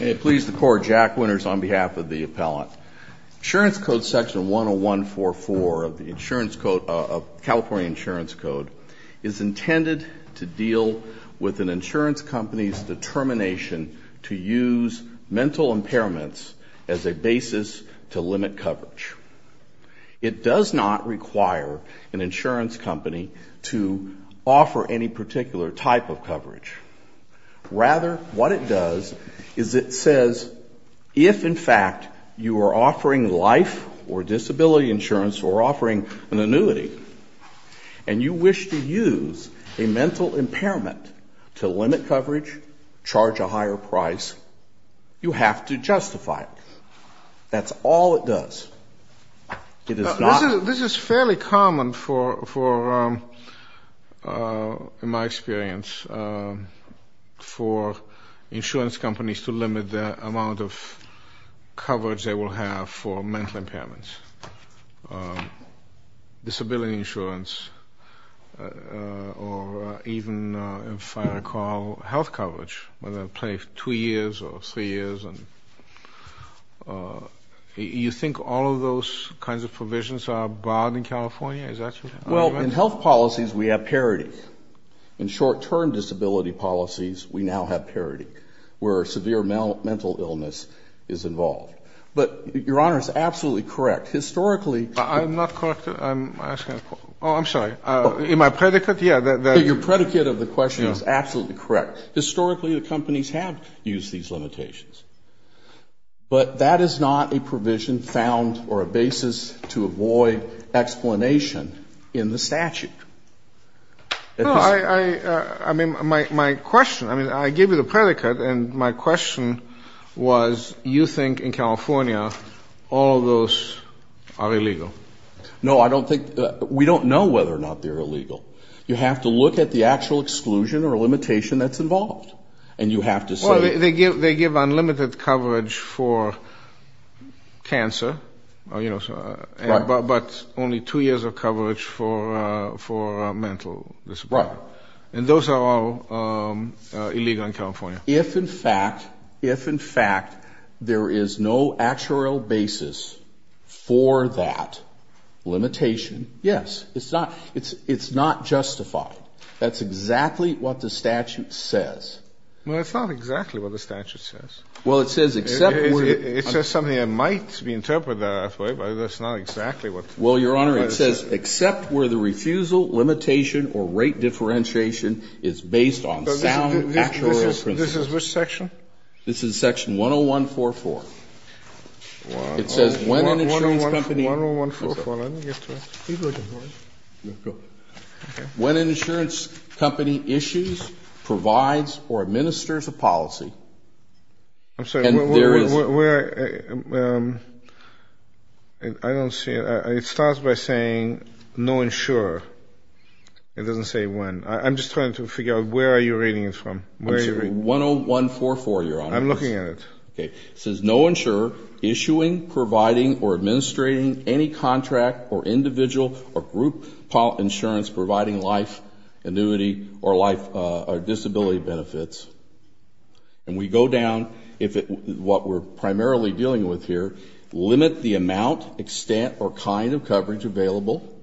May it please the Court, Jack Winters on behalf of the Appellant. Insurance Code Section 10144 of the California Insurance Code is intended to deal with an insurance company's determination to use mental impairments as a basis to limit coverage. It does not require an insurance company to offer any particular type of coverage. Rather, what it does is it says if, in fact, you are offering life or disability insurance or offering an annuity and you wish to use a mental impairment to limit coverage, charge a higher price, you have to justify it. That's all it does. This is fairly common for, in my experience, for insurance companies to limit the amount of coverage they will have for mental impairments, disability insurance, or even, if I recall, health coverage, whether it be two years or three years. And you think all of those kinds of provisions are banned in California? Is that your argument? Well, in health policies, we have parity. In short-term disability policies, we now have parity where severe mental illness is involved. But, Your Honor, it's absolutely correct. Historically, I'm not correct. I'm asking a question. Oh, I'm sorry. In my predicate? Yeah. Your predicate of the question is absolutely correct. Historically, the companies have used these limitations. But that is not a provision found or a basis to avoid explanation in the statute. No, I mean, my question, I mean, I gave you the predicate, and my question was you think in California all of those are illegal. No, I don't think we don't know whether or not they're illegal. You have to look at the actual exclusion or limitation that's involved. And you have to say they give unlimited coverage for cancer, but only two years of coverage for mental disability. Right. And those are all illegal in California. If, in fact, if, in fact, there is no actual basis for that limitation, yes. It's not justified. That's exactly what the statute says. Well, it's not exactly what the statute says. Well, it says except where the It says something that might be interpreted that way, but it's not exactly what Well, Your Honor, it says except where the refusal, limitation, or rate differentiation is based on sound actuarial principles. This is which section? This is section 10144. It says when an insurance company Let me get to it. When an insurance company issues, provides, or administers a policy I'm sorry, where, I don't see it. It starts by saying no insurer. It doesn't say when. I'm just trying to figure out where are you reading it from. I'm sorry, 10144, Your Honor. I'm looking at it. It says no insurer issuing, providing, or administrating any contract or individual or group insurance providing life, annuity, or disability benefits. And we go down, what we're primarily dealing with here, limit the amount, extent, or kind of coverage available.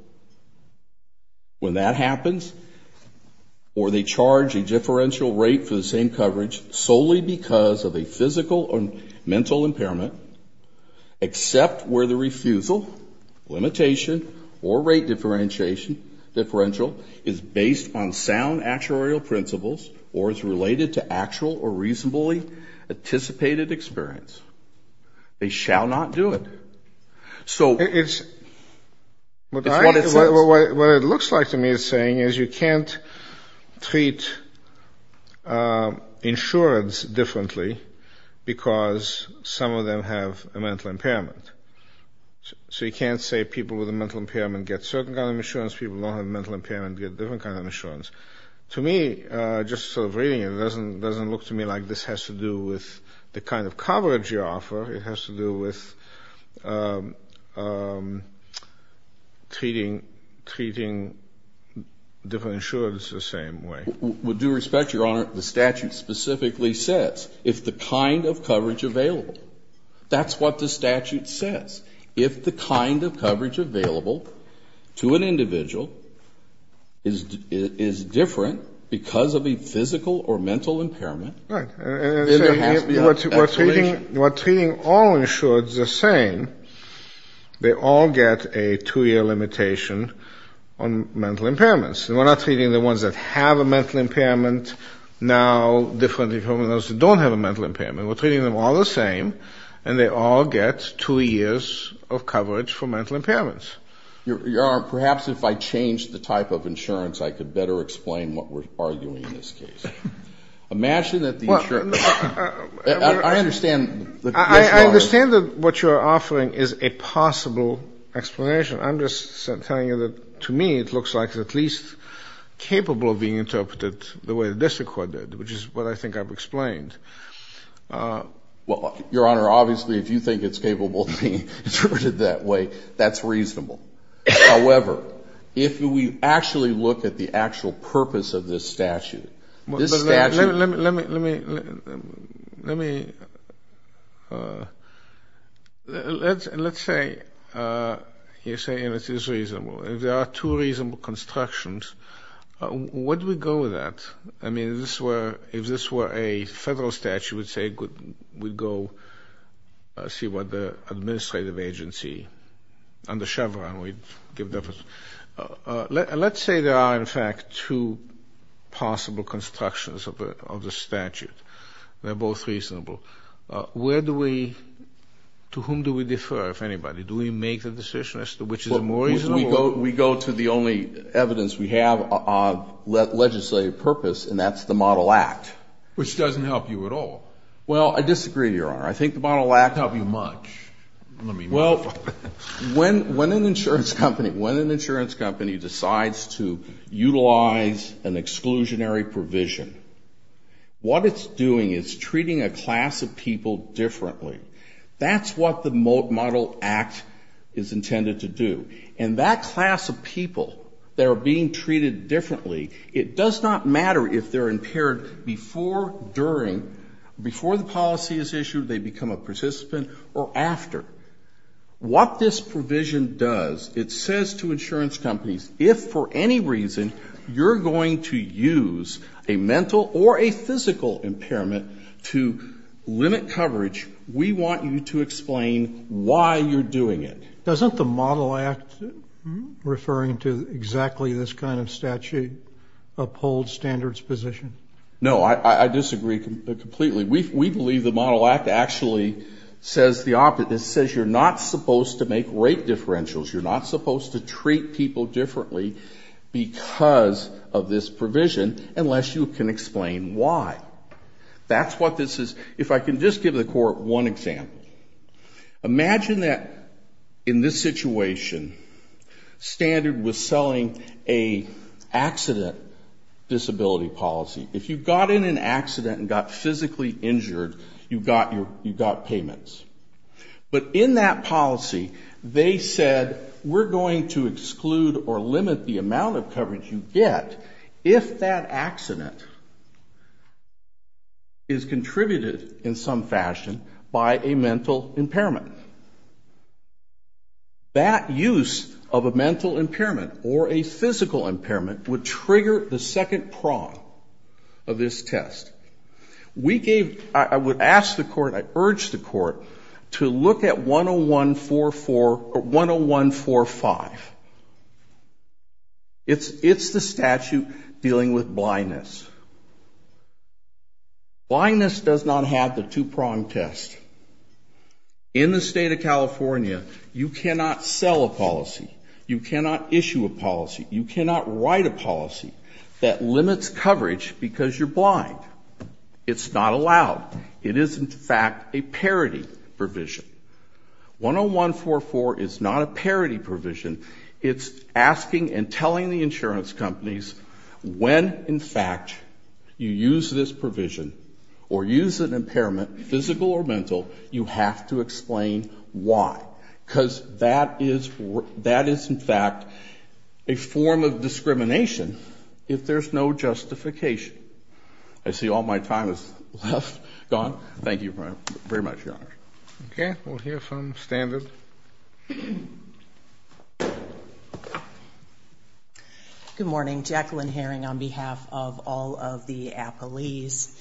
When that happens, or they charge a differential rate for the same coverage solely because of a physical or mental impairment except where the refusal, limitation, or rate differential is based on sound actuarial principles or is related to actual or reasonably anticipated experience. They shall not do it. So it's what it says. The other thing is you can't treat insurance differently because some of them have a mental impairment. So you can't say people with a mental impairment get a certain kind of insurance, people who don't have a mental impairment get a different kind of insurance. To me, just sort of reading it doesn't look to me like this has to do with the kind of coverage you offer. It has to do with treating different insurers the same way. With due respect, Your Honor, the statute specifically says if the kind of coverage available. That's what the statute says. If the kind of coverage available to an individual is different because of a physical or mental impairment, then there has to be an absolution. They all get a two-year limitation on mental impairments. And we're not treating the ones that have a mental impairment now differently from those that don't have a mental impairment. We're treating them all the same, and they all get two years of coverage for mental impairments. Your Honor, perhaps if I changed the type of insurance, I could better explain what we're arguing in this case. Imagine that the insurance. I understand that what you're offering is a possible explanation. I'm just telling you that to me it looks like it's at least capable of being interpreted the way the district court did, which is what I think I've explained. Well, Your Honor, obviously if you think it's capable of being interpreted that way, that's reasonable. However, if we actually look at the actual purpose of this statute, this statute... Let me, let me, let me, let me, let's say you're saying it is reasonable. There are two reasonable constructions. Would we go with that? I mean, if this were, if this were a federal statute, we'd say we'd go see what the administrative agency under Chevron would give us. Let's say there are, in fact, two possible constructions of the statute. They're both reasonable. Where do we, to whom do we defer, if anybody? Do we make the decision as to which is more reasonable? We go to the only evidence we have of legislative purpose, and that's the Model Act. Which doesn't help you at all. Well, I disagree, Your Honor. I think the Model Act... Doesn't help you much. Well, when an insurance company, when an insurance company decides to utilize an exclusionary provision, what it's doing is treating a class of people differently. That's what the Model Act is intended to do. And that class of people that are being treated differently, it does not matter if they're impaired before, during, before the policy is issued, they become a participant or after. What this provision does, it says to insurance companies, if for any reason you're going to use a mental or a physical impairment to limit coverage, we want you to explain why you're doing it. Doesn't the Model Act, referring to exactly this kind of statute, uphold standards position? No, I disagree completely. We believe the Model Act actually says the opposite. It says you're not supposed to make rate differentials. You're not supposed to treat people differently because of this provision unless you can explain why. That's what this is. If I can just give the Court one example. Imagine that in this situation, standard was selling an accident disability policy. If you got in an accident and got physically injured, you got payments. But in that policy, they said we're going to exclude or limit the amount of coverage you get if that accident is contributed in some fashion by a mental impairment. That use of a mental impairment or a physical impairment would trigger the second prong of this test. We gave, I would ask the Court, I urge the Court to look at 101-4-5. It's the statute dealing with blindness. Blindness does not have the two prong test. In the State of California, you cannot sell a policy. You cannot issue a policy. You cannot write a policy that limits coverage because you're blind. It's not allowed. It is, in fact, a parity provision. 101-4-4 is not a parity provision. It's asking and telling the insurance companies when, in fact, you use this provision or use an impairment, physical or mental, you have to explain why. Because that is, in fact, a form of discrimination if there's no justification. I see all my time is left, gone. Thank you very much, Your Honor. Okay. We'll hear from Standard. Good morning. Jacqueline Herring on behalf of all of the appellees.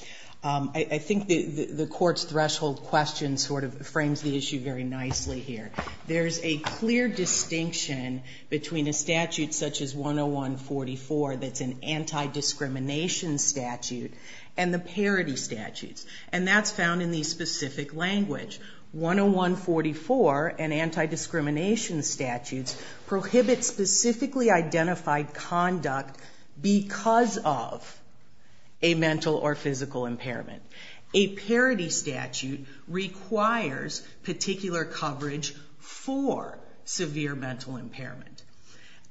I think the Court's threshold question sort of frames the issue very nicely here. There's a clear distinction between a statute such as 101-44 that's an anti-discrimination statute and the parity statutes. And that's found in the specific language. 101-44 and anti-discrimination statutes prohibit specifically identified conduct because of a mental or physical impairment. A parity statute requires particular coverage for severe mental impairment.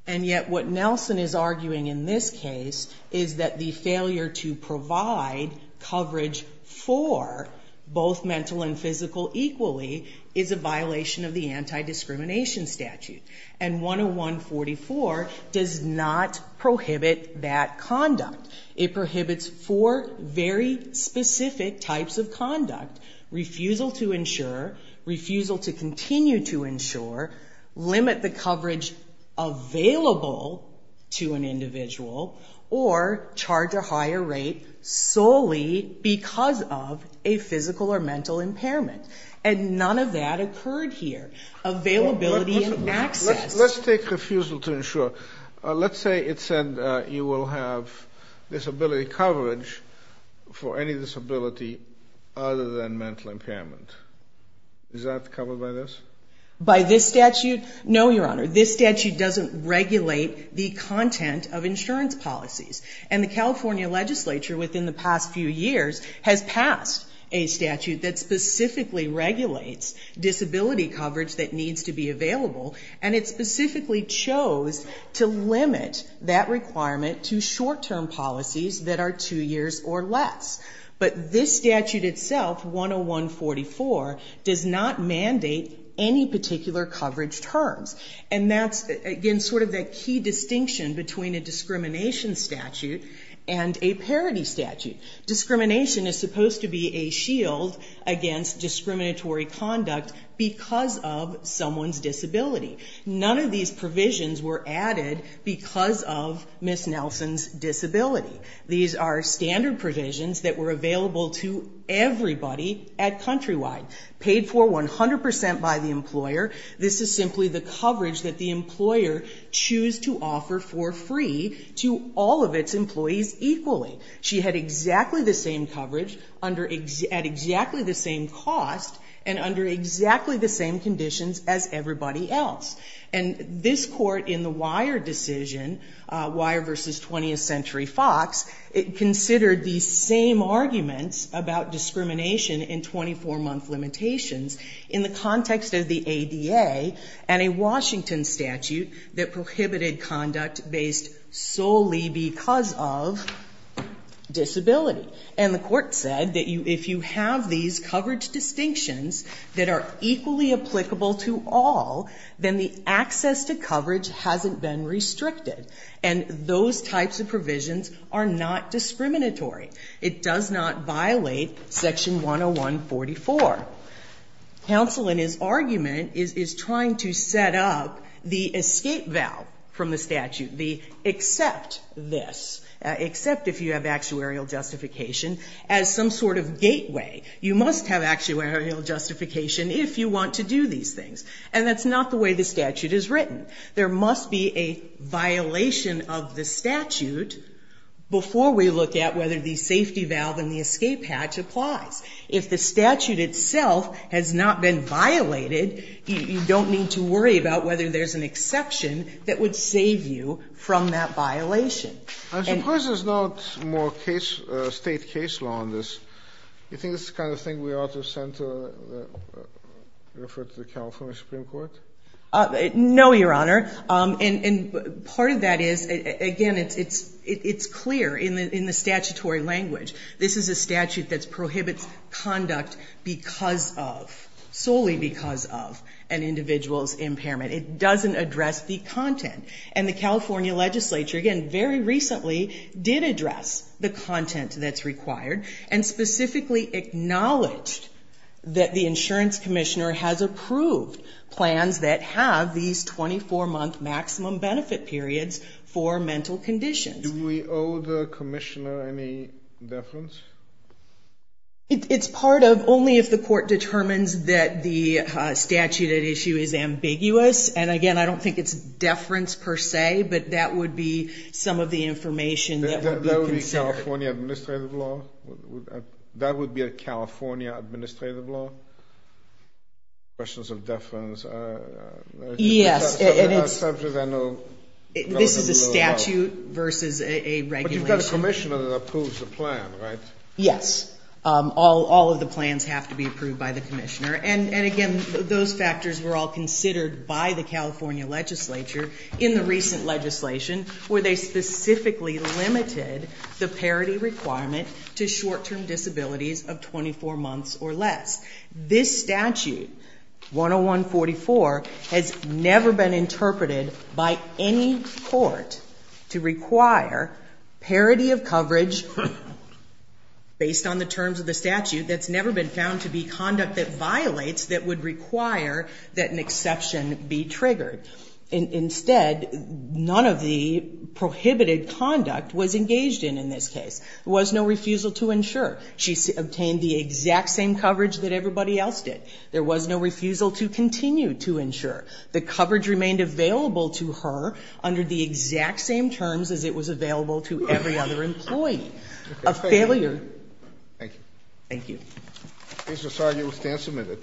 And yet what Nelson is arguing in this case is that the failure to provide coverage for both mental and physical equally is a violation of the anti-discrimination statute. And 101-44 does not prohibit that conduct. It prohibits four very specific types of conduct. Refusal to insure, refusal to continue to insure, limit the coverage available to an individual, or charge a higher rate solely because of a physical or mental impairment. And none of that occurred here. Availability and access. Let's take refusal to insure. Let's say it said you will have disability coverage for any disability other than mental impairment. Is that covered by this? By this statute? No, Your Honor. This statute doesn't regulate the content of insurance policies. And the California legislature within the past few years has passed a statute that specifically regulates disability coverage that needs to be available, and it specifically chose to limit that requirement to short-term policies that are two years or less. But this statute itself, 101-44, does not mandate any particular coverage terms. And that's, again, sort of the key distinction between a discrimination statute and a parity statute. Discrimination is supposed to be a shield against discriminatory conduct because of someone's disability. None of these provisions were added because of Ms. Nelson's disability. These are standard provisions that were available to everybody at Countrywide. Paid for 100% by the employer, this is simply the coverage that the employer chose to offer for free to all of its employees equally. She had exactly the same coverage at exactly the same cost, and under exactly the same conditions as everybody else. And this court in the Weyer decision, Weyer v. 20th Century Fox, considered these same arguments about discrimination in 24-month limitations in the context of the ADA and a Washington statute that prohibited conduct based solely because of disability. And the court said that if you have these coverage distinctions that are equally applicable to all, then the access to coverage hasn't been restricted. And those types of provisions are not discriminatory. It does not violate Section 101-44. Counsel, in his argument, is trying to set up the escape valve from the statute, the except this, except if you have actuarial justification, as some sort of gateway. You must have actuarial justification if you want to do these things. And that's not the way the statute is written. There must be a violation of the statute before we look at whether the safety valve and the escape hatch applies. If the statute itself has not been violated, you don't need to worry about whether there's an exception that would save you from that violation. And of course, there's no more case, State case law on this. Do you think this is the kind of thing we ought to refer to the California Supreme Court? No, Your Honor. And part of that is, again, it's clear in the statutory language. This is a statute that prohibits conduct because of, solely because of, an individual's impairment. It doesn't address the content. And the California legislature, again, very recently did address the content that's required, and specifically acknowledged that the insurance commissioner has approved plans that have these 24-month maximum benefit periods for mental conditions. Do we owe the commissioner any deference? It's part of, only if the court determines that the statute at issue is ambiguous. And again, I don't think it's deference per se, but that would be some of the information that would be considered. That would be California administrative law? That would be a California administrative law? Questions of deference. Yes. This is a statute versus a regulation. But you've got a commissioner that approves the plan, right? Yes. All of the plans have to be approved by the commissioner. And again, those factors were all considered by the California legislature in the recent legislation, where they specifically limited the parity requirement to short-term disabilities of 24 months or less. This statute, 101-44, has never been interpreted by any court to require parity of coverage, based on the terms of the statute, that's never been found to be conduct that violates, that would require that an exception be triggered. Instead, none of the prohibited conduct was engaged in in this case. There was no refusal to insure. She obtained the exact same coverage that everybody else did. There was no refusal to continue to insure. The coverage remained available to her under the exact same terms as it was available to every other employee. A failure. Thank you. Thank you. Mr. Sargio will stand submitted.